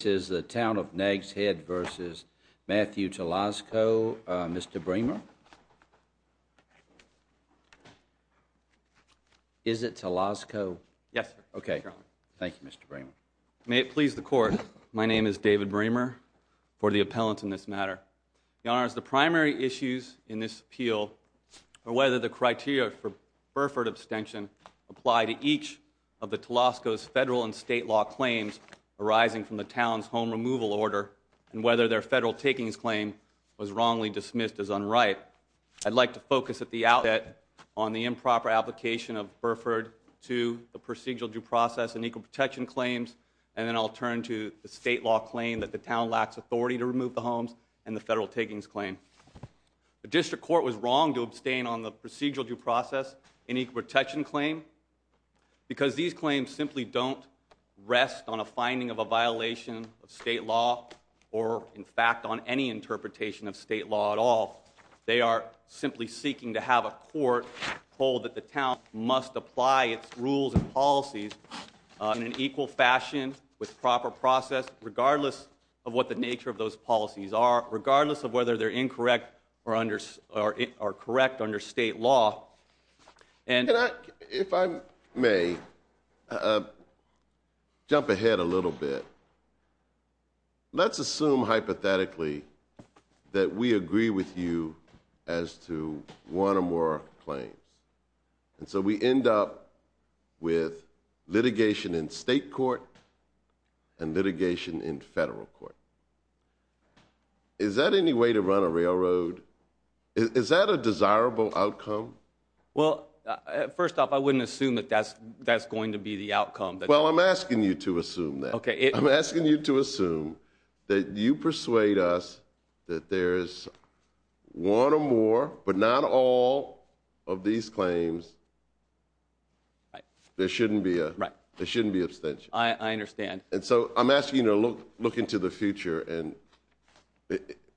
This is the Town of Nags Head v. Matthew Toloczko. Uh, Mr. Bremer. Is it Toloczko? Yes. Okay. Thank you, Mr. Bremer. May it please the court. My name is David Bremer for the appellant in this matter. The honor is the primary issues in this appeal or whether the criteria for Burford abstention apply to each of the Toloczko's federal and state law claims arising from the town's home removal order and whether their federal takings claim was wrongly dismissed as unright. I'd like to focus at the outlet on the improper application of Burford to the procedural due process and equal protection claims. And then I'll turn to the state law claim that the town lacks authority to remove the homes and the federal takings claim. The district court was wrong to abstain on the procedural due process in equal protection claim because these claims simply don't rest on a finding of a violation of state law or in fact on any interpretation of state law at all. They are simply seeking to have a court hold that the town must apply its rules and policies in an equal fashion with proper process, regardless of what the nature of those policies are, regardless of whether they're incorrect or under or correct under state law. And if I may jump ahead a little bit, let's assume hypothetically that we agree with you as to one or more claims. And so we end up with litigation in state court and litigation in federal court. Is that any way to run a railroad? Is that a desirable outcome? Well, first off, I wouldn't assume that that's going to be the outcome. Well, I'm asking you to assume that. Okay. I'm asking you to assume that you persuade us that there is one or more, but not all, of these claims. There shouldn't be a, there shouldn't be abstention. I understand. And so I'm asking you to look into the future and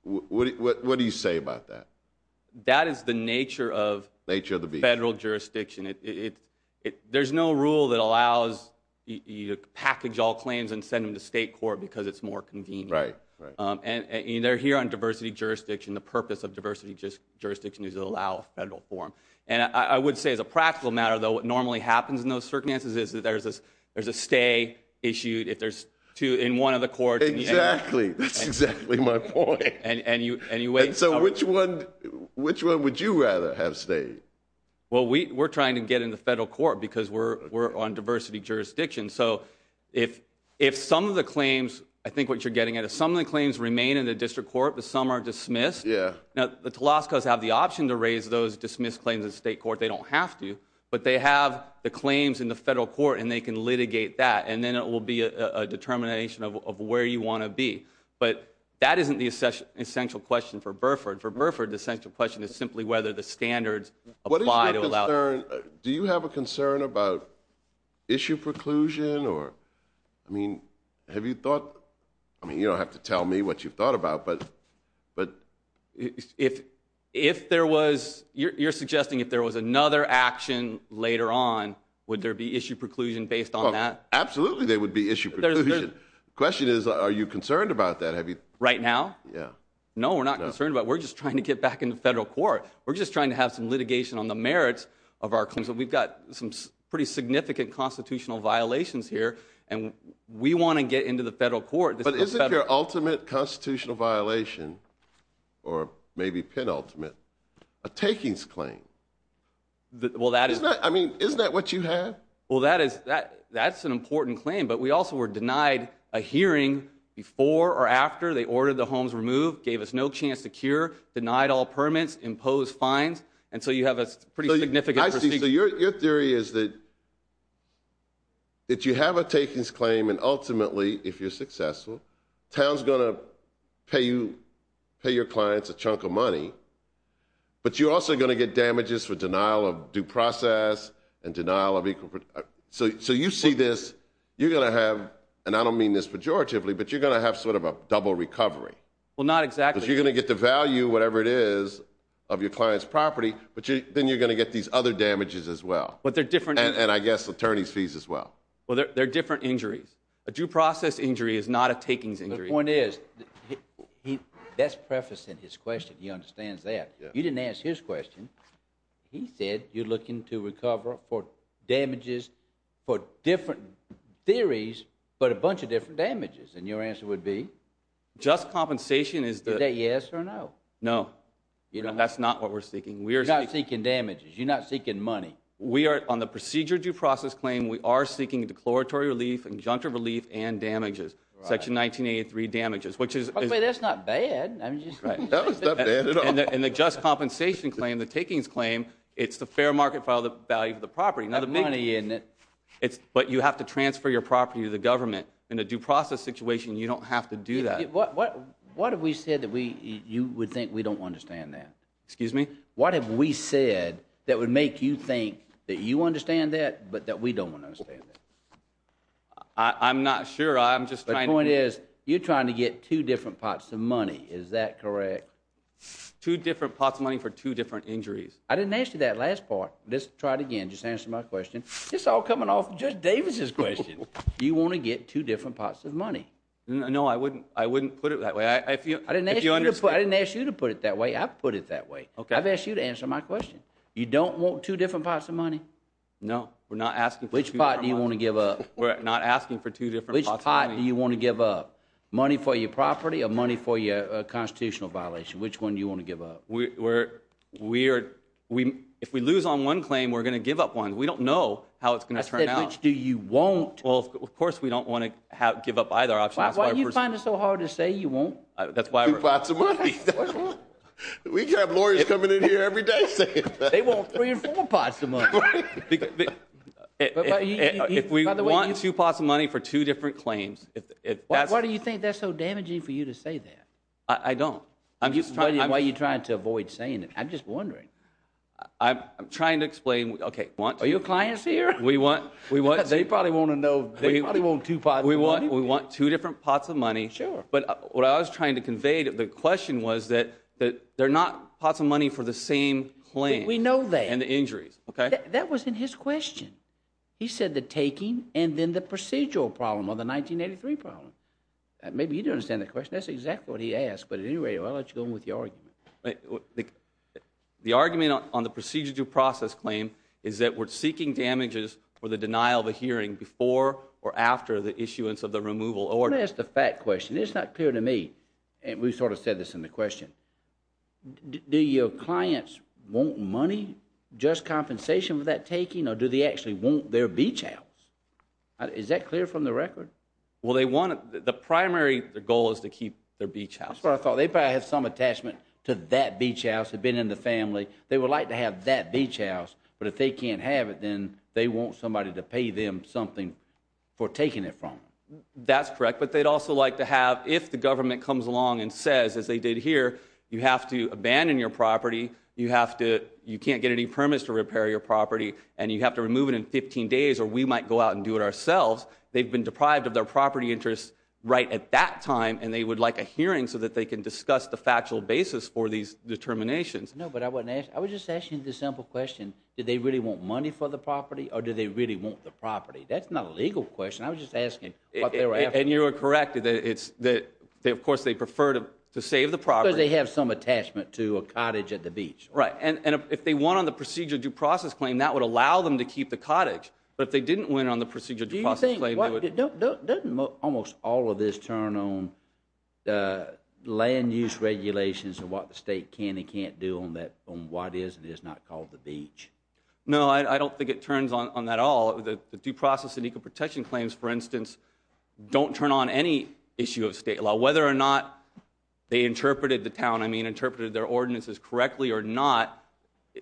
what do you say about that? That is the nature of federal jurisdiction. There's no rule that allows you to package all claims and send them to state court because it's more convenient. And they're here on diversity jurisdiction. The purpose of diversity jurisdiction is to allow federal forum. And I would say as a practical matter, though, what normally happens in those circumstances is that there's a stay issued if there's two in one of the courts. Exactly. That's exactly my point. And you, anyway. So which one, which one would you rather have stayed? Well, we're trying to get in the federal court because we're on diversity jurisdiction. So if some of the claims, I think what you're getting at is some of the claims remain in the district court, but some are dismissed. Yeah. Now the Telascos have the option to raise those dismissed claims in state court. They don't have to, but they have the claims in the federal court and they can litigate that. And then it will be a matter of where you want to be. But that isn't the essential question for Burford. For Burford, the essential question is simply whether the standards apply to allow. Do you have a concern about issue preclusion? Or, I mean, have you thought, I mean, you don't have to tell me what you've thought about, but, but. If, if there was, you're suggesting if there was another action later on, would there be issue preclusion based on that? Absolutely there would be issue preclusion. The question is, are you concerned about that? Have you? Right now? Yeah. No, we're not concerned about it. We're just trying to get back into federal court. We're just trying to have some litigation on the merits of our claims. So we've got some pretty significant constitutional violations here and we want to get into the federal court. But isn't your ultimate constitutional violation, or maybe penultimate, a takings claim? Well that is. I mean, isn't that what you have? Well that is, that, that's an important claim, but we also were denied a hearing before or after they ordered the homes removed, gave us no chance to cure, denied all permits, imposed fines, and so you have a pretty significant... I see, so your theory is that, that you have a takings claim and ultimately, if you're successful, town's gonna pay you, pay your clients a chunk of money, but you're also going to get damages for denial of due process and you see this, you're gonna have, and I don't mean this pejoratively, but you're gonna have sort of a double recovery. Well, not exactly. You're gonna get the value, whatever it is, of your client's property, but then you're gonna get these other damages as well. But they're different. And I guess attorneys fees as well. Well, they're different injuries. A due process injury is not a takings injury. The point is, he's best prefacing his question. He understands that. You didn't ask his question. He said you're looking to recover for damages for different theories, but a bunch of different damages. And your answer would be? Just compensation is... Is that yes or no? No. You know, that's not what we're seeking. We're not seeking damages. You're not seeking money. We are, on the procedure due process claim, we are seeking declaratory relief, injunctive relief, and damages. Section 1983 damages, which is... That's not bad. And the just compensation claim, the takings claim, it's the fair market value for the property. But you have to transfer your property to the government. In a due process situation, you don't have to do that. What have we said that you would think we don't understand that? Excuse me? What have we said that would make you think that you understand that, but that we don't understand that? I'm not sure. The point is, you're trying to get two different pots of money. Is that correct? Two different pots of money for two different injuries. I didn't ask you that last part. Let's try it again. Just answer my question. This is all coming off of Judge Davis's question. You want to get two different pots of money. No, I wouldn't. I wouldn't put it that way. I didn't ask you to put it that way. I've put it that way. Okay. I've asked you to answer my question. You don't want two different pots of money? No. We're not asking... Which pot do you want to give up? We're not asking for two different pots of money. Which pot do you want to give up? Money for your property or money for your constitutional violation? Which one you want to give up? We're... We are... If we lose on one claim, we're going to give up one. We don't know how it's going to turn out. I said, which do you want? Well, of course, we don't want to give up either option. That's why we're... Why do you find it so hard to say you want two pots of money? We have lawyers coming in here every day saying that. They want three and four pots of money. If we want two pots of money for two different claims, if that's... Why do you think that's so damaging for you to say that? I don't. I'm just trying... Why are you clients here? We want... We want... They probably want to know. They probably want two pots of money. We want two different pots of money. Sure. But what I was trying to convey to the question was that that they're not pots of money for the same claim. We know that. And the injuries. Okay. That was in his question. He said the taking and then the procedural problem or the 1983 problem. Maybe you don't understand the question. That's exactly what he asked. But at any rate, I'll let you go on with your argument. The argument on the procedure due process claim is that we're seeking damages for the denial of a hearing before or after the issuance of the removal order. Let me ask the fact question. It's not clear to me. And we sort of said this in the question. Do your clients want money? Just compensation for that taking? Or do they actually want their beach house? Is that clear from the record? Well, they want... The primary goal is to keep their beach house. That's what I said. That beach house had been in the family. They would like to have that beach house. But if they can't have it, then they want somebody to pay them something for taking it from them. That's correct. But they'd also like to have, if the government comes along and says, as they did here, you have to abandon your property. You have to... You can't get any permits to repair your property. And you have to remove it in 15 days. Or we might go out and do it ourselves. They've been deprived of their property interests right at that time. And they would like a these determinations. No, but I wouldn't ask. I was just asking the simple question. Did they really want money for the property? Or do they really want the property? That's not a legal question. I was just asking. And you're correct. It's that they, of course, they prefer to save the property. Because they have some attachment to a cottage at the beach. Right. And if they won on the procedure due process claim, that would allow them to keep the cottage. But if they didn't win on the procedure due process claim... Don't almost all of this turn on land use regulations and what the state can and can't do on that, on what is and is not called the beach. No, I don't think it turns on that all. The due process and equal protection claims, for instance, don't turn on any issue of state law. Whether or not they interpreted the town, I mean, interpreted their ordinances correctly or not,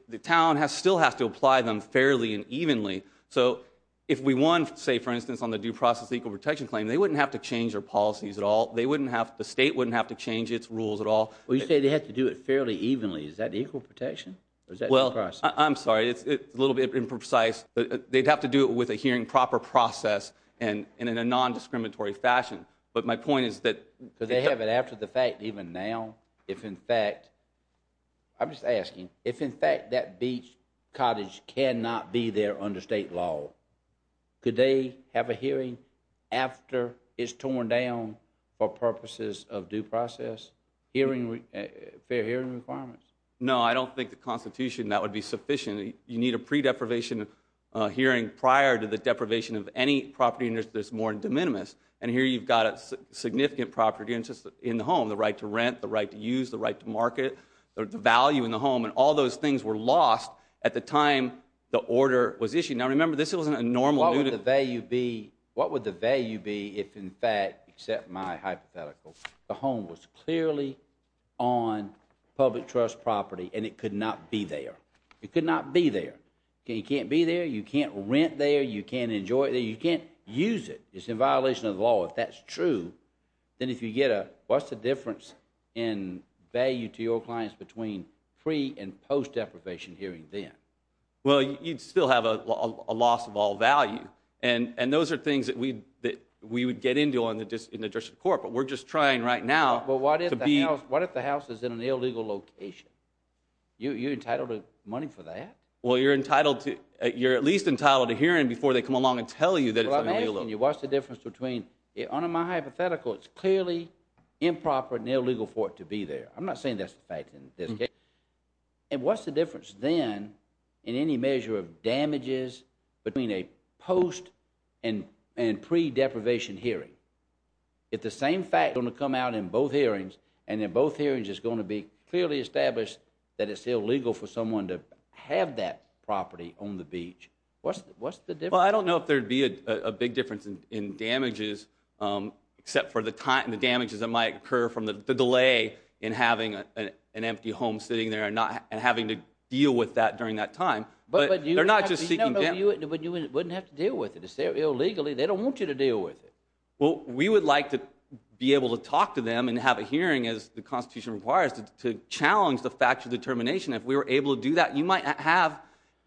the town has still have to apply them fairly and evenly. So if we won, say, for instance, on the due process equal protection claim, they wouldn't have to change their policies at all. They wouldn't have, the state wouldn't have to change its rules at all. Well, you say they have to do it fairly evenly. Is that equal protection? Well, I'm sorry, it's a little bit imprecise. They'd have to do it with a hearing proper process and in a non-discriminatory fashion. But my point is that... Because they have it after the fact even now. If in fact, I'm just asking, if in fact that beach cottage cannot be there under state law, could they have a hearing after it's torn down for purposes of due process, hearing, fair hearing requirements? No, I don't think the Constitution, that would be sufficient. You need a pre-deprivation hearing prior to the deprivation of any property interest that's more de minimis. And here you've got a significant property interest in the home, the right to rent, the right to use, the right to market, the value in the home, and all those things were lost at the time the order was issued. Now remember, this wasn't a normal... What would the value be, what would the value be if in fact, except my hypothetical, the home was clearly on public trust property and it could not be there? It could not be there. It can't be there, you can't rent there, you can't enjoy it, you can't use it. It's in violation of the law. If that's true, then if you get a, what's the difference in value to your clients between pre- and post-deprivation hearing then? Well, you'd still have a loss of all value. And those are things that we would get into in the judicial court, but we're just trying right now to be... But what if the house is in an illegal location? You're entitled to money for that? Well, you're entitled to, you're at least entitled to hearing before they come along and tell you that it's an illegal location. What's the difference between, under my hypothetical, it's clearly improper and illegal for it to be there. I'm not saying that's the fact in this case. And what's the difference then in any measure of damages between a post- and pre-deprivation hearing? If the same fact is going to come out in both hearings, and in both hearings it's going to be clearly established that it's illegal for someone to have that property on the beach, what's the difference? Well, I don't know if there'd be a big difference in damages, except for the damages that might occur from the delay in having an empty home sitting there and having to deal with that during that time. But they're not just seeking damages. But you wouldn't have to deal with it. It's there illegally. They don't want you to deal with it. Well, we would like to be able to talk to them and have a hearing, as the Constitution requires, to challenge the factual determination. If we were able to do that, you might have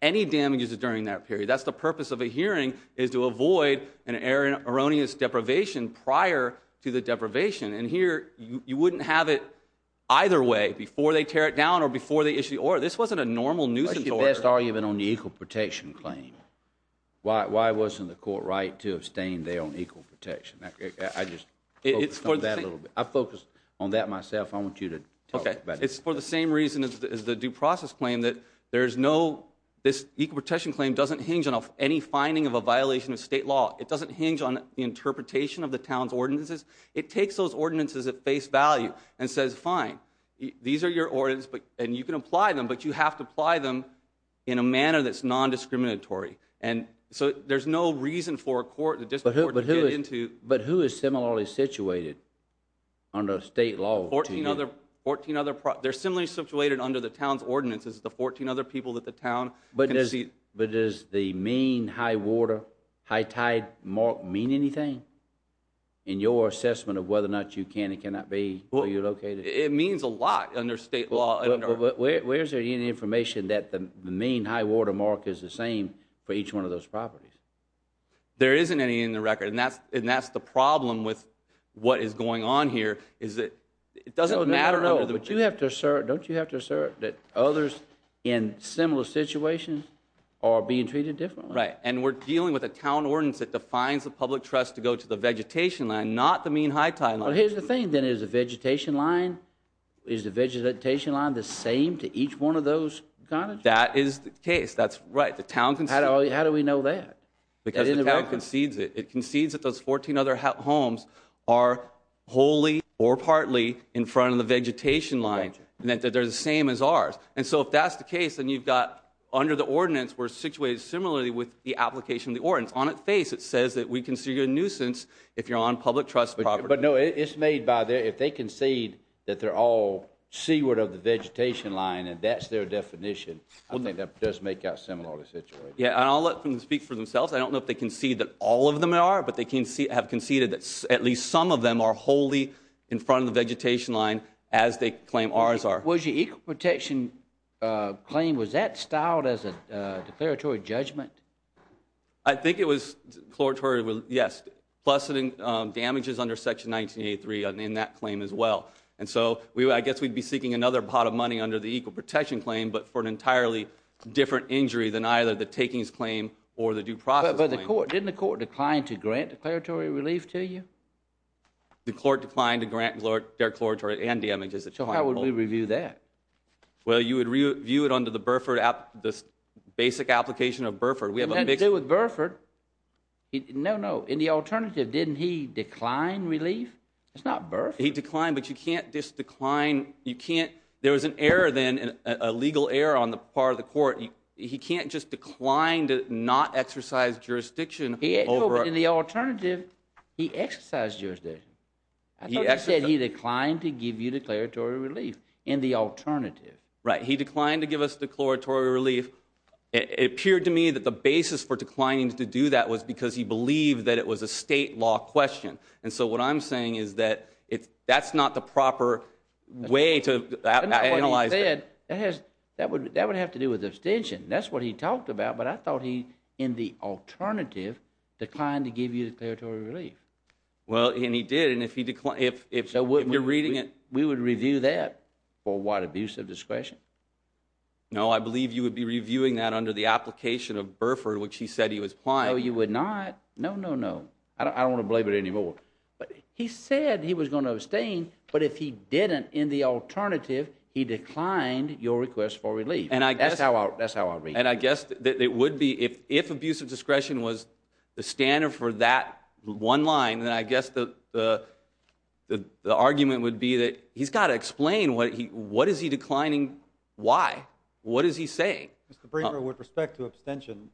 any damages during that period. That's the purpose of a hearing, is to avoid an erroneous deprivation prior to the deprivation. And here, you wouldn't have it either way, before they tear it down or before they issue the order. This wasn't a normal nuisance order. I think you best argue it on the equal protection claim. Why wasn't the court right to abstain there on equal protection? I just focused on that a little bit. I focused on that myself. I want you to talk about it. Okay. It's for the same reason as the due This equal protection claim doesn't hinge on any finding of a violation of state law. It doesn't hinge on the interpretation of the town's ordinances. It takes those ordinances at face value and says, fine, these are your ordinances, and you can apply them, but you have to apply them in a manner that's non-discriminatory. And so there's no reason for a court, a district court, to get into... But who is similarly situated under state law to you? Fourteen other... They're similarly situated under the town's ordinances, the fourteen other people that the town can see... But does the mean high water, high tide mark mean anything in your assessment of whether or not you can and cannot be, where you're located? It means a lot under state law. Where is there any information that the mean high water mark is the same for each one of those properties? There isn't any in the record, and that's the problem with what is going on here, is that it doesn't matter... No, no, no, but you have to assert, don't you have to assert that others in similar situations are being treated differently? Right, and we're dealing with a town ordinance that defines the public trust to go to the vegetation line, not the mean high tide line. Well, here's the thing, then, is the vegetation line, is the vegetation line the same to each one of those cottages? That is the case. That's right. The town can see... How do we know that? Because the town concedes it. It concedes that those fourteen other homes are wholly or partly in front of the vegetation line, and that they're the same as ours. And so if that's the case, then you've got, under the ordinance, we're situated similarly with the application of the ordinance. On its face, it says that we consider you a nuisance if you're on public trust property. But no, it's made by their, if they concede that they're all seaward of the vegetation line and that's their definition, I think that does make out similarly situated. Yeah, and I'll let them speak for themselves. I don't know if they concede that all of them are, but they have conceded that at least some of them are wholly in front of the vegetation line as they claim ours are. Was your equal protection claim, was that styled as a declaratory judgment? I think it was declaratory, yes, plus damages under section 1983 in that claim as well. And so, I guess we'd be seeking another pot of money under the equal protection claim, but for an entirely different injury than either the takings claim or the due process claim. Didn't the court decline to grant declaratory relief to you? The court declined to grant declaratory and damages. So how would we review that? Well, you would review it under the Burford, this basic application of Burford. We have a big deal with Burford. No, no, in the alternative, didn't he decline relief? It's not Burford. He declined, but you can't just decline, you can't, there was an error then, a legal error on the part of the court. He can't just decline to not exercise jurisdiction over. In the alternative, he exercised jurisdiction. I thought you said he declined to give you declaratory relief. In the alternative. Right, he declined to give us declaratory relief. It appeared to me that the basis for declining to do that was because he believed that it was a state law question. And so, what I'm saying is that that's not the proper way to analyze it. That would have to do with abstention. That's what he talked about, but I thought he, in the alternative, declined to give you declaratory relief. Well, and he did, and if you're reading it. We would review that for what, abuse of discretion? No, I believe you would be reviewing that under the application of Burford, which he said he was applying. No, you would not. No, no, no. I don't want to blame it anymore. But he said he was going to abstain, but if he didn't, in the alternative, he declined your request for relief. That's how I read it. And I guess that it would be, if abuse of discretion was the standard for that one line, then I guess the argument would be that he's got to explain what he, what is he declining, why? What is he saying? Mr. Brinker, with respect to abstention,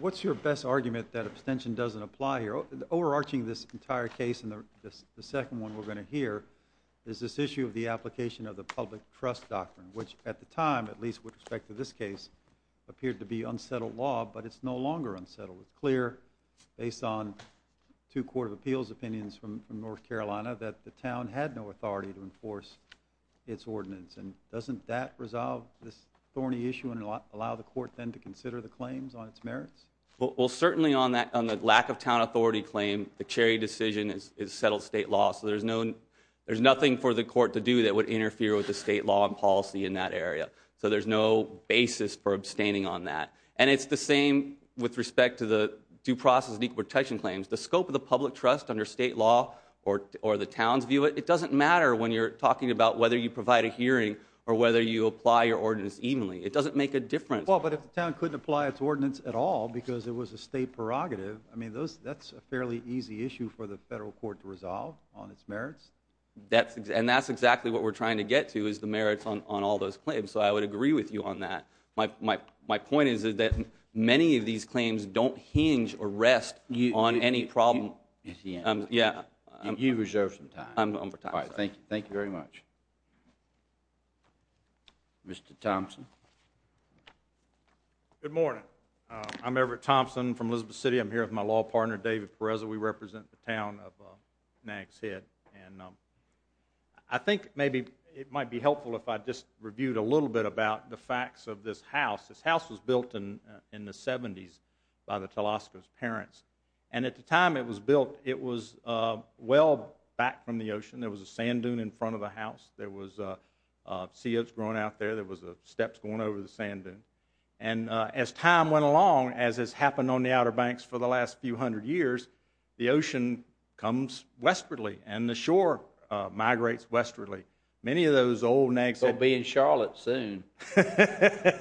what's your best argument that abstention doesn't apply here? Overarching this entire case, the second one we're going to hear is this issue of the application of the public trust doctrine, which at the time, at least with respect to this case, appeared to be unsettled law, but it's no longer unsettled. It's clear, based on two court of appeals opinions from North Carolina, that the town had no authority to enforce its ordinance, and doesn't that resolve this thorny issue and allow the court then to consider the claims on its merits? Well, certainly on that, on the lack of town authority claim, the Cherry decision is settled state law, so there's no, there's nothing for the court to do that would interfere with the state law and policy in that area. So there's no basis for abstaining on that. And it's the same with respect to the due process and equal protection claims. The scope of the public trust under state law or the town's view, it doesn't matter when you're talking about whether you provide a hearing or whether you apply your ordinance evenly. It doesn't make a difference. But if the town couldn't apply its ordinance at all because it was a state prerogative, I mean, that's a fairly easy issue for the federal court to resolve on its merits. And that's exactly what we're trying to get to, is the merits on all those claims. So I would agree with you on that. My point is that many of these claims don't hinge or rest on any problem. You've reserved some time. All right, thank you. Thank you very much. Mr. Thompson. Good morning. I'm Everett Thompson from Elizabeth City. I'm here with my law partner, David Perez. We represent the town of Nags Head. And I think maybe it might be helpful if I just reviewed a little bit about the facts of this house. This house was built in the 70s by the Telosco's parents. And at the time it was built, it was well back from the ocean. There was a sand dunes. There was seals growing out there. There was steps going over the sand dunes. And as time went along, as has happened on the Outer Banks for the last few hundred years, the ocean comes westwardly, and the shore migrates westwardly. Many of those old Nags Head— We'll be in Charlotte soon. Judge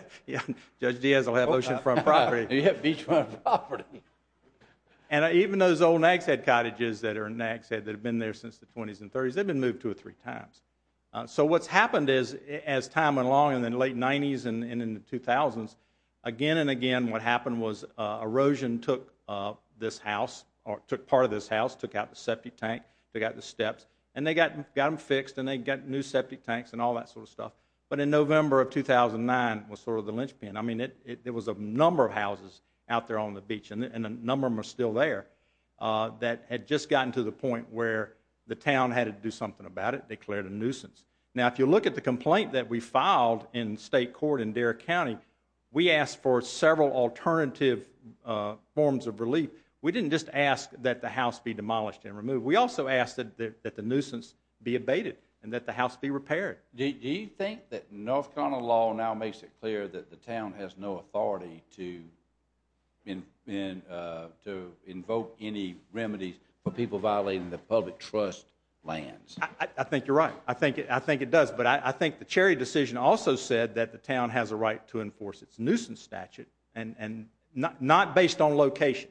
Diaz will have oceanfront property. Yeah, beachfront property. And even those old Nags Head cottages that are in Nags Head that have been there since the 20s and 30s, they've been moved two or three times. So what's happened is, as time went along in the late 90s and in the 2000s, again and again what happened was erosion took this house, or took part of this house, took out the septic tank, took out the steps, and they got them fixed, and they got new septic tanks and all that sort of stuff. But in November of 2009 was sort of the linchpin. I mean, there was a number of houses out there on the beach, and a number of them are still there, that had just gotten to the point where the town had to do something about it, declared a nuisance. Now, if you look at the complaint that we filed in state court in Derrick County, we asked for several alternative forms of relief. We didn't just ask that the house be demolished and removed. We also asked that the nuisance be abated and that the house be repaired. Do you think that North Carolina law now makes it clear that the town has no authority to invoke any remedies for people violating the public trust lands? I think you're right. I think it does. But I think the Cherry decision also said that the town has a right to enforce its nuisance statute, and not based on location,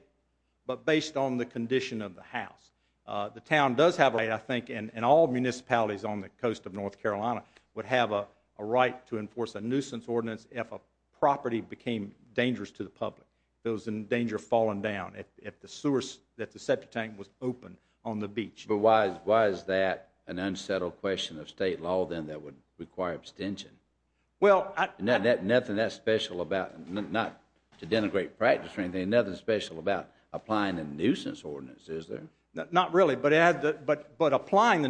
but based on the condition of the house. The town does have a right, I think, in all municipalities on the coast of North Carolina, would have a right to enforce a nuisance ordinance if a property became dangerous to the public, if it was in danger of falling down, if the sewer, if the septic tank was open on the beach. But why is that an unsettled question of state law, then, that would require abstention? Well, I... Nothing that special about, not to denigrate practice or anything, nothing special about applying a nuisance ordinance, is there? Not really, but applying the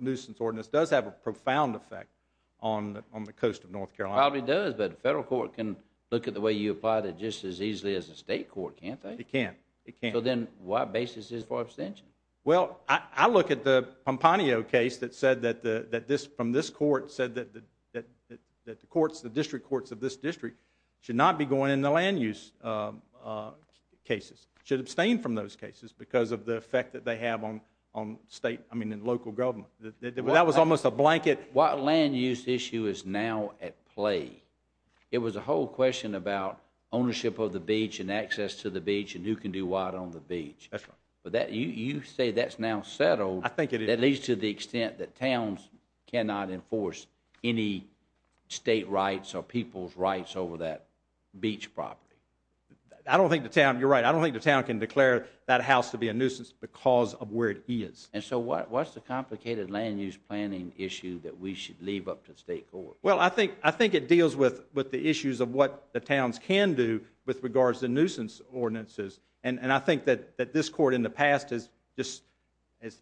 nuisance ordinance does have a profound effect on the coast of North Carolina. Probably does, but a federal court can look at the way you apply it just as easily as a state court, can't they? It can. It can. So then, what basis is for abstention? Well, I look at the Pampanio case that said that this court said that the district courts of this district should not be going into land use cases, should abstain from those cases because of the effect that they have on state, I mean, and local government. That was almost a blanket... What land use issue is now at play? It was a whole question about ownership of the beach and access to the beach, and who can do what on the beach. That's right. But that, you say that's now settled. I think it is. At least to the extent that towns cannot enforce any state rights or people's rights over that beach property. I don't think the town, you're right, I don't think the town can declare that house to be a cause of where it is. And so what's the complicated land use planning issue that we should leave up to the state court? Well, I think it deals with the issues of what the towns can do with regards to nuisance ordinances, and I think that this court in the past has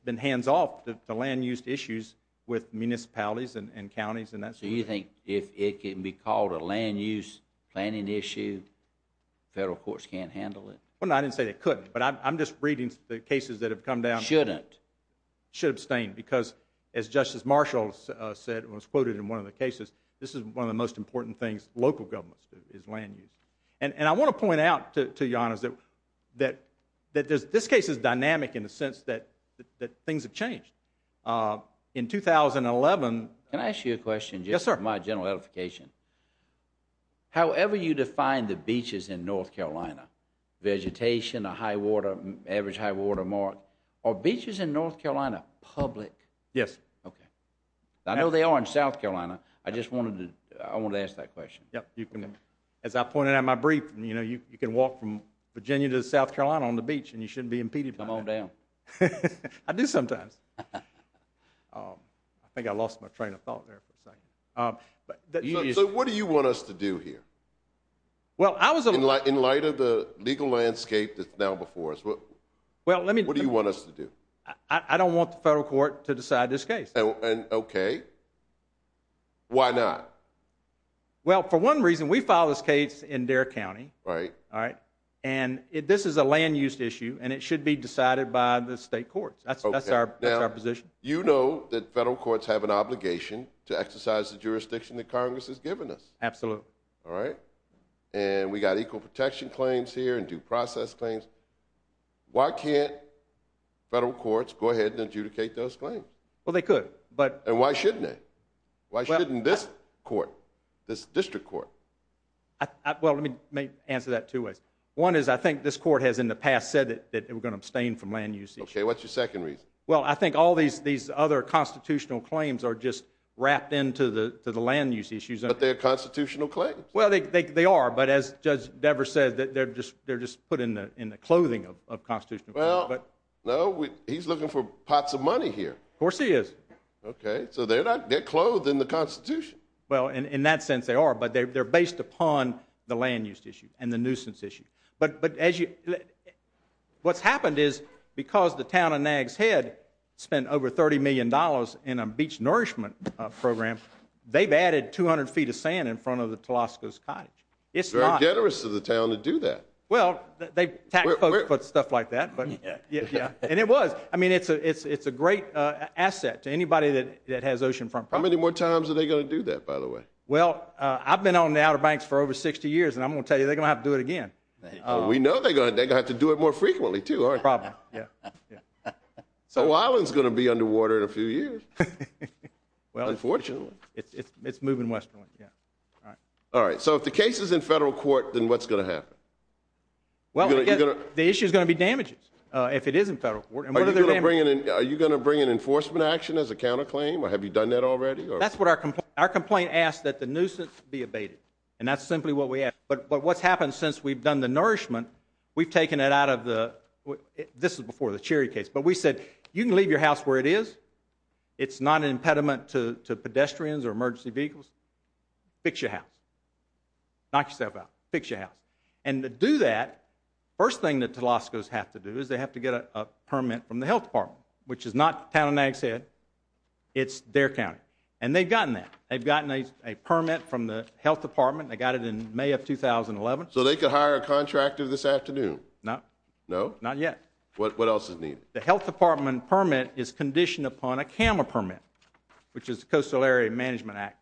been hands-off to land use issues with municipalities and counties, and that's... So you think if it can be called a land use planning issue, federal courts can't handle it? No, I didn't say they couldn't, but I'm just reading the cases that have come down... Shouldn't. ...should abstain, because as Justice Marshall said, it was quoted in one of the cases, this is one of the most important things local governments do, is land use. And I want to point out, to be honest, that this case is dynamic in the sense that things have changed. In 2011... Can I ask you a question? Yes, sir. My general edification. However you define the beaches in North Carolina, vegetation, a high water, average high water mark, are beaches in North Carolina public? Yes. Okay. I know they are in South Carolina. I just wanted to ask that question. Yep, you can... As I pointed out in my brief, you can walk from Virginia to South Carolina on the beach, and you shouldn't be impeded by that. Come on down. I do sometimes. I think I lost my train of thought there for a second. So what do you want us to do here? Well, I was... In light of the legal landscape that's now before us, what do you want us to do? I don't want the federal court to decide this case. Okay. Why not? Well, for one reason, we filed this case in Dare County. Right. All right. And this is a land use issue, and it should be decided by the state courts. That's our position. You know that federal courts have an obligation to exercise the jurisdiction that Congress has given us. Absolutely. All right. And we got equal protection claims here and due process claims. Why can't federal courts go ahead and adjudicate those claims? Well, they could, but... And why shouldn't they? Why shouldn't this court, this district court? Well, let me answer that two ways. One is I think this court has in the past said that they were going to abstain from land use issues. Okay. What's your second reason? Well, I think all these other constitutional claims are just wrapped into the land use issues. But they're constitutional claims. Well, they are, but as Judge Devers said, they're just put in the clothing of constitutional claims. Well, no, he's looking for pots of money here. Of course he is. Okay. So they're clothed in the Constitution. Well, in that sense, they are, but they're based upon the land use issue and the nuisance issue. But what's happened is because the town of Nags Head spent over $30 million in a beach nourishment program, they've added 200 feet of sand in front of the Telosco's cottage. It's not... They're generous to the town to do that. Well, they tax folks put stuff like that, but yeah. And it was. I mean, it's a great asset to anybody that has oceanfront property. How many more times are they going to do that, by the way? Well, I've been on the Outer Banks for over 60 years, and I'm going to tell you, they're going to have to do it again. We know they're going to have to do it more frequently, too, aren't they? Probably, yeah. So O'Island's going to be underwater in a few years, unfortunately. Well, it's moving westerly, yeah. All right. So if the case is in federal court, then what's going to happen? Well, I guess the issue is going to be damages if it is in federal court. And what are the damages? Are you going to bring an enforcement action as a counterclaim? Have you done that already? That's what our complaint... Our complaint asks that the nuisance be abated, and that's simply what we ask. But what's happened since we've done the nourishment, we've taken it out of the... This is before the Cherry case. But we said, you can leave your house where it is. It's not an impediment to pedestrians or emergency vehicles. Fix your house. Knock yourself out. Fix your house. And to do that, first thing the Telascos have to do is they have to get a permit from the Health Department, which is not Town and Ag's head. It's their county. And they've gotten that. They've gotten a permit from the Health Department. They got it in May of 2011. So they could hire a contractor this afternoon? No. No? Not yet. What else is needed? The Health Department permit is conditioned upon a CAMA permit, which is the Coastal Area Management Act.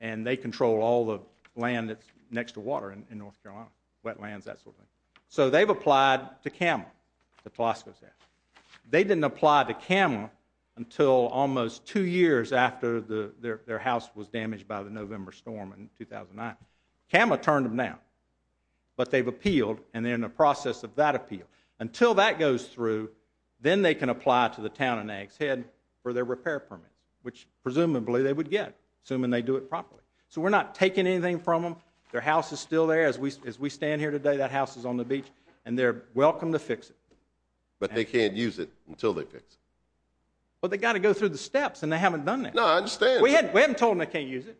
And they control all the land that's next to water in North Carolina, wetlands, that sort of thing. So they've applied to CAMA, the Telascos have. They didn't apply to CAMA until almost two years after their house was damaged by the CAMA turned them down. But they've appealed, and they're in the process of that appeal. Until that goes through, then they can apply to the Town and Ag's head for their repair permits, which presumably they would get, assuming they do it properly. So we're not taking anything from them. Their house is still there. As we stand here today, that house is on the beach. And they're welcome to fix it. But they can't use it until they fix it. Well, they've got to go through the steps, and they haven't done that. No, I understand. We haven't told them they can't use it.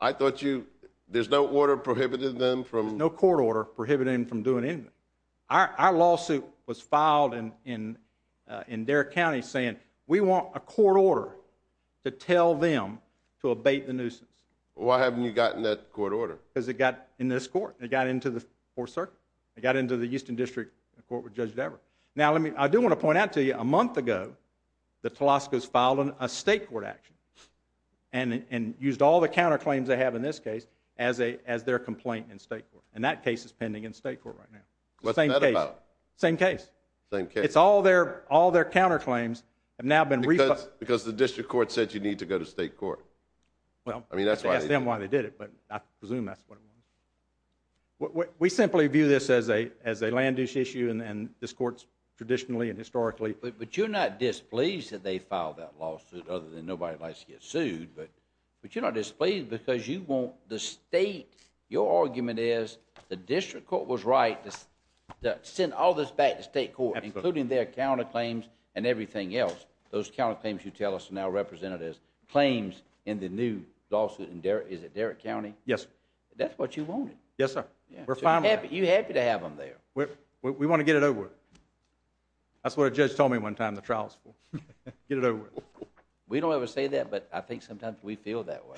I thought you, there's no order prohibiting them from- No court order prohibiting them from doing anything. Our lawsuit was filed in Derrick County saying, we want a court order to tell them to abate the nuisance. Why haven't you gotten that court order? Because it got in this court. It got into the Fourth Circuit. It got into the Houston District Court with Judge Dever. Now, I do want to point out to you, a month ago, the Telascos filed a state court action and used all the counterclaims they have in this case as their complaint in state court. And that case is pending in state court right now. What's that about? Same case. Same case. It's all their counterclaims have now been- Because the district court said you need to go to state court. Well- I mean, that's why- Ask them why they did it, but I presume that's what it was. We simply view this as a land use issue, and this court's traditionally and historically- But you're not displeased because you want the state- Your argument is the district court was right to send all this back to state court, including their counterclaims and everything else. Those counterclaims you tell us are now represented as claims in the new lawsuit. And is it Derrick County? Yes, sir. That's what you wanted. Yes, sir. We're fine with that. You're happy to have them there. We want to get it over with. That's what a judge told me one time in the trial school. Get it over with. We don't ever say that, but I think sometimes we feel that way.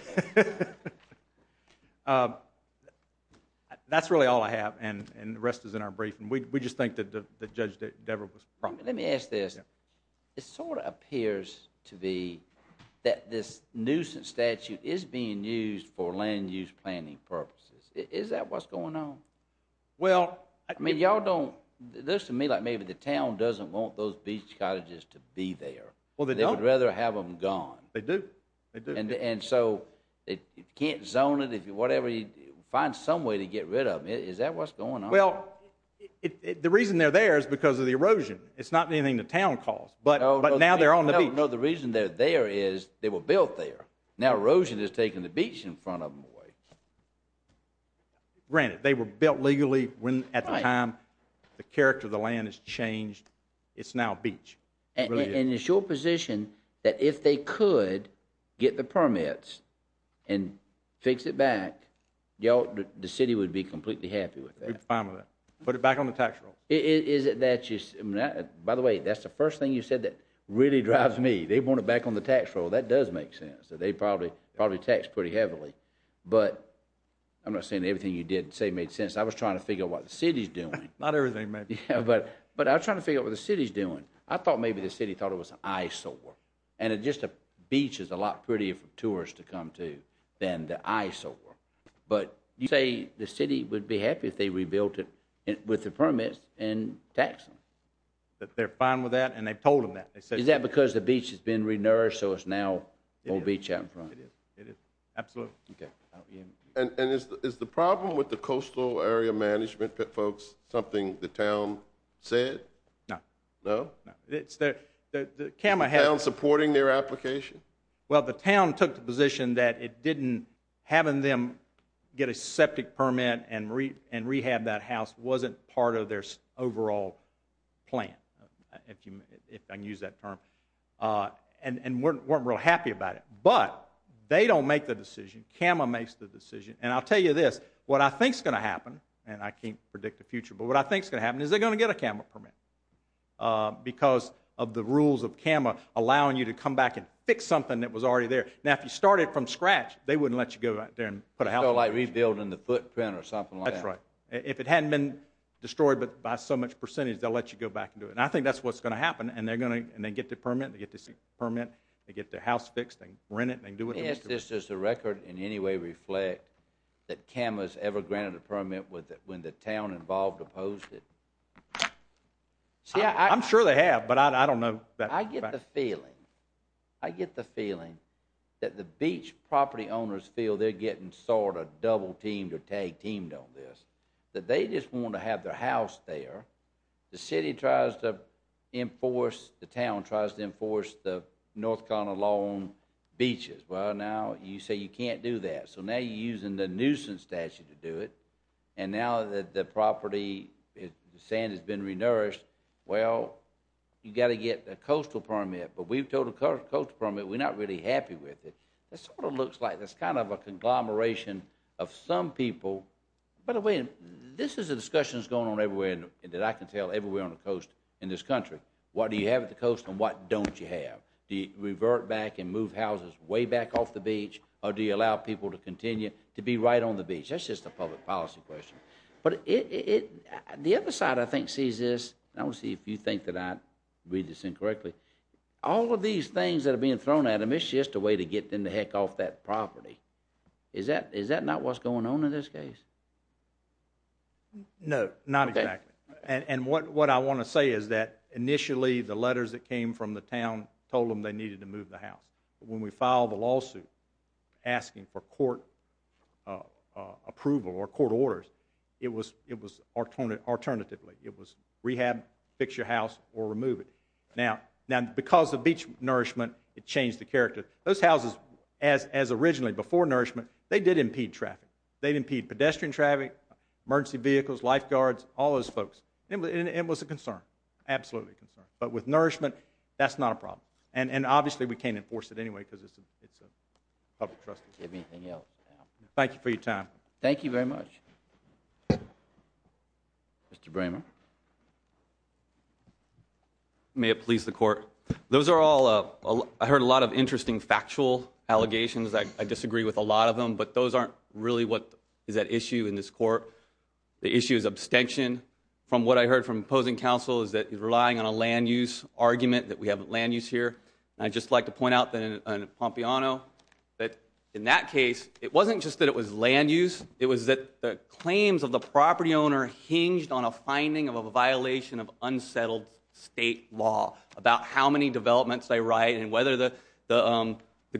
That's really all I have, and the rest is in our briefing. We just think that Judge Debra was- Let me ask this. It sort of appears to be that this nuisance statute is being used for land use planning purposes. Is that what's going on? Well- I mean, y'all don't- This to me, like maybe the town doesn't want those beach colleges to be there. Well, they don't- They'd rather have them gone. They do. They do. And so, if you can't zone it, whatever, find some way to get rid of it. Is that what's going on? Well, the reason they're there is because of the erosion. It's not anything the town caused, but now they're on the beach. No, the reason they're there is they were built there. Now erosion is taking the beach in front of them away. Granted, they were built legally at the time the character of the land has changed. It's now beach. And it's your position that if they could get the permits and fix it back, the city would be completely happy with that. We'd be fine with that. Put it back on the tax roll. By the way, that's the first thing you said that really drives me. They want it back on the tax roll. That does make sense. They probably taxed pretty heavily. But I'm not saying everything you did say made sense. I was trying to figure out what the city's doing. Not everything, maybe. But I was trying to figure out what the city's doing. I thought maybe the city thought it was an eyesore. And just a beach is a lot prettier for tourists to come to than the eyesore. But you say the city would be happy if they rebuilt it with the permits and tax them. But they're fine with that, and they've told them that. Is that because the beach has been re-nourished, so it's now no beach out in front? It is. It is. Absolutely. And is the problem with the coastal area management folks something the town said? No. No? Is the town supporting their application? Well, the town took the position that having them get a septic permit and rehab that house wasn't part of their overall plan, if I can use that term, and weren't real happy about it. But they don't make the decision. CAMA makes the decision. And I'll tell you this. What I think's going to happen, and I can't predict the future, but what I think's going to happen is they're going to get a CAMA permit. Because of the rules of CAMA allowing you to come back and fix something that was already there. Now, if you started from scratch, they wouldn't let you go out there and put a house— It's like rebuilding the footprint or something like that. That's right. If it hadn't been destroyed by so much percentage, they'll let you go back and do it. And I think that's what's going to happen. And they're going to—and they get the permit. They get the permit. They get their house fixed. They rent it. They do what they need to do. Does the record in any way reflect that CAMA's ever granted a permit when the town involved opposed it? See, I— I'm sure they have, but I don't know that— I get the feeling. I get the feeling that the beach property owners feel they're getting sort of double-teamed or tag-teamed on this. That they just want to have their house there. The city tries to enforce—the town tries to enforce the North Carolina law on beaches. Well, now you say you can't do that. So now you're using the nuisance statute to do it. And now that the property—the sand has been renourished, well, you've got to get a coastal permit. But we've told the coastal permit we're not really happy with it. It sort of looks like it's kind of a conglomeration of some people—by the way, this is a discussion that's going on everywhere that I can tell everywhere on the coast in this country. What do you have at the coast and what don't you have? Do you revert back and move houses way back off the beach, or do you allow people to continue to be right on the beach? That's just a public policy question. But the other side, I think, sees this—and I want to see if you think that I read this incorrectly—all of these things that are being thrown at them, it's just a way to get them the heck off that property. Is that not what's going on in this case? No, not exactly. And what I want to say is that initially the letters that came from the town told them they needed to move the house. When we filed the lawsuit asking for court approval or court orders, it was alternatively. It was rehab, fix your house, or remove it. Now, because of beach nourishment, it changed the character. Those houses, as originally, before nourishment, they did impede traffic. They'd impede pedestrian traffic, emergency vehicles, lifeguards, all those folks. It was a concern, absolutely a concern. But with nourishment, that's not a problem. And obviously, we can't enforce it anyway because it's a public trust. Thank you for your time. Thank you very much. Mr. Bramer. May it please the Court. Those are all—I heard a lot of interesting factual allegations. I disagree with a lot of them, but those aren't really what is at issue in this court. The issue is abstention. From what I heard from opposing counsel is that he's relying on a land use argument, that we have land use here. I'd just like to point out that in Pompeano, that in that case, it wasn't just that it was land use. It was that the claims of the property owner hinged on a finding of a violation of unsettled state law about how many developments they write and whether the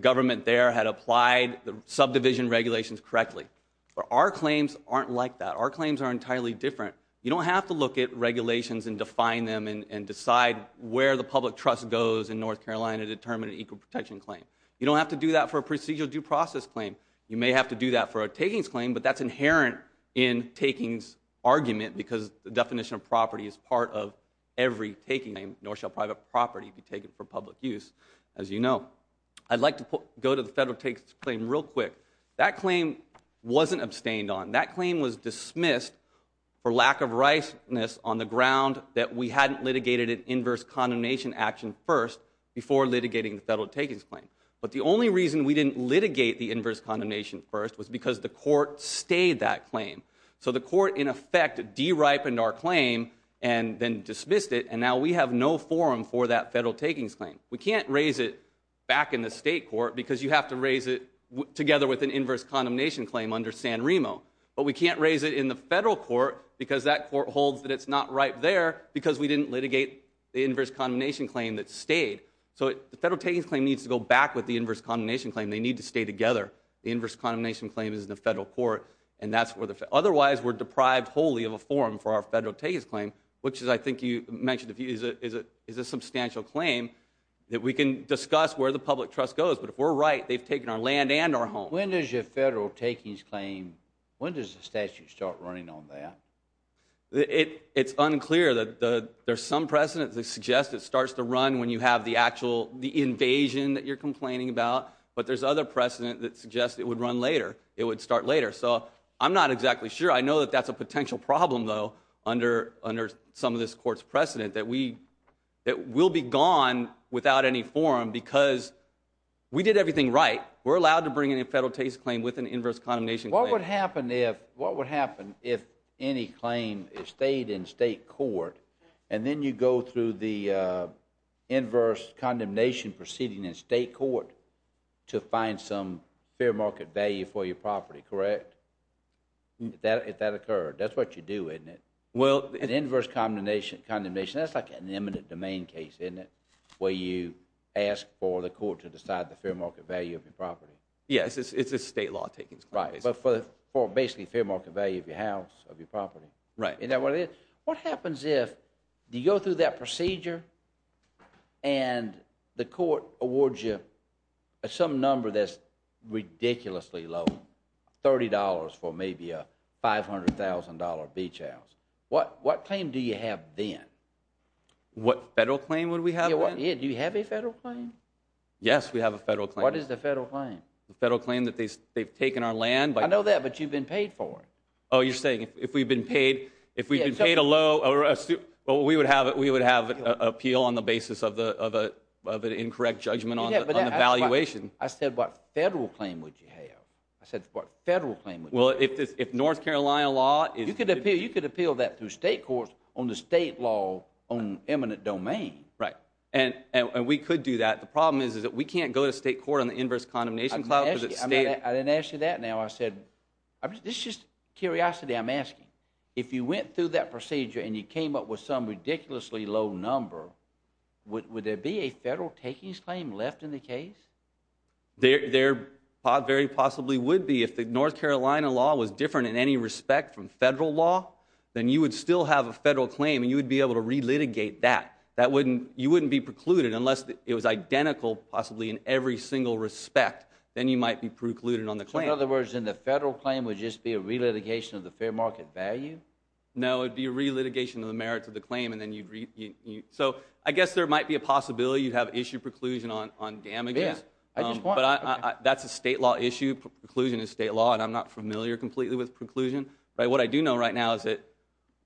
government there had applied the subdivision regulations correctly. But our claims aren't like that. Our claims are entirely different. You don't have to look at regulations and define them and decide where the public trust goes in North Carolina to determine an equal protection claim. You don't have to do that for a procedural due process claim. You may have to do that for a takings claim, but that's inherent in takings argument because the definition of property is part of every taking. Nor shall private property be taken for public use, as you know. I'd like to go to the federal takings claim real quick. That claim wasn't abstained on. That claim was dismissed for lack of rightness on the ground that we hadn't litigated an inverse condemnation action first before litigating the federal takings claim. But the only reason we didn't litigate the inverse condemnation first was because the court stayed that claim. So the court, in effect, deripened our claim and then dismissed it, and now we have no forum for that federal takings claim. We can't raise it back in the state court because you have to raise it together with an inverse condemnation claim under San Remo. But we can't raise it in the federal court because that court holds that it's not right there because we didn't litigate the inverse condemnation claim that stayed. So the federal takings claim needs to go back with the inverse condemnation claim. They need to stay together. The inverse condemnation claim is in the federal court. And that's where the—otherwise, we're deprived wholly of a forum for our federal takings claim, which is, I think you mentioned, is a substantial claim that we can discuss where the public trust goes. But if we're right, they've taken our land and our home. When does your federal takings claim—when does the statute start running on that? It's unclear. There's some precedent that suggests it starts to run when you have the actual—the invasion that you're complaining about. But there's other precedent that suggests it would run later. It would start later. So I'm not exactly sure. I know that that's a potential problem, though, under some of this court's precedent, that we—that we'll be gone without any forum because we did everything right. We're allowed to bring in a federal takings claim with an inverse condemnation claim. What would happen if—what would happen if any claim stayed in state court, and then you go through the inverse condemnation proceeding in state court to find some fair market value for your property, correct? If that occurred. That's what you do, isn't it? Well— An inverse condemnation—that's like an eminent domain case, isn't it? Where you ask for the court to decide the fair market value of your property. Yes, it's a state law takings claim. Right. But for basically fair market value of your house, of your property. Right. And what happens if you go through that procedure, and the court awards you some number that's ridiculously low—$30 for maybe a $500,000 beach house. What claim do you have then? What federal claim would we have then? Do you have a federal claim? Yes, we have a federal claim. What is the federal claim? The federal claim that they've taken our land by— I know that, but you've been paid for it. Oh, you're saying if we've been paid—if we've been paid a low—we would have an appeal on the basis of an incorrect judgment on the valuation. I said what federal claim would you have? I said what federal claim would you have? Well, if North Carolina law is— You could appeal that through state courts on the state law on eminent domain. Right. And we could do that. The problem is that we can't go to state court on the inverse condemnation clause. I didn't ask you that now. I said—this is just curiosity I'm asking. If you went through that procedure and you came up with some ridiculously low number, would there be a federal takings claim left in the case? There very possibly would be. If the North Carolina law was different in any respect from federal law, then you would still have a federal claim, and you would be able to relitigate that. You wouldn't be precluded unless it was identical possibly in every single respect, then you might be precluded on the claim. In other words, then the federal claim would just be a relitigation of the fair market value? No, it'd be a relitigation of the merits of the claim, and then you'd—so I guess there might be a possibility you'd have issue preclusion on damages. Yeah, I just want— But that's a state law issue. Preclusion is state law, and I'm not familiar completely with preclusion. What I do know right now is that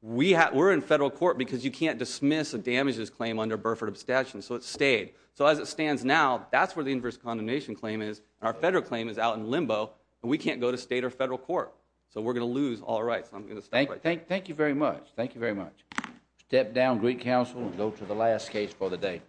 we're in federal court because you can't dismiss a damages claim under Burford abstention, so it stayed. So as it stands now, that's where the inverse condemnation claim is. Our federal claim is out in limbo, and we can't go to state or federal court. So we're going to lose all rights. I'm going to stop right there. Thank you very much. Thank you very much. Step down, Greek Council, and go to the last case for the day.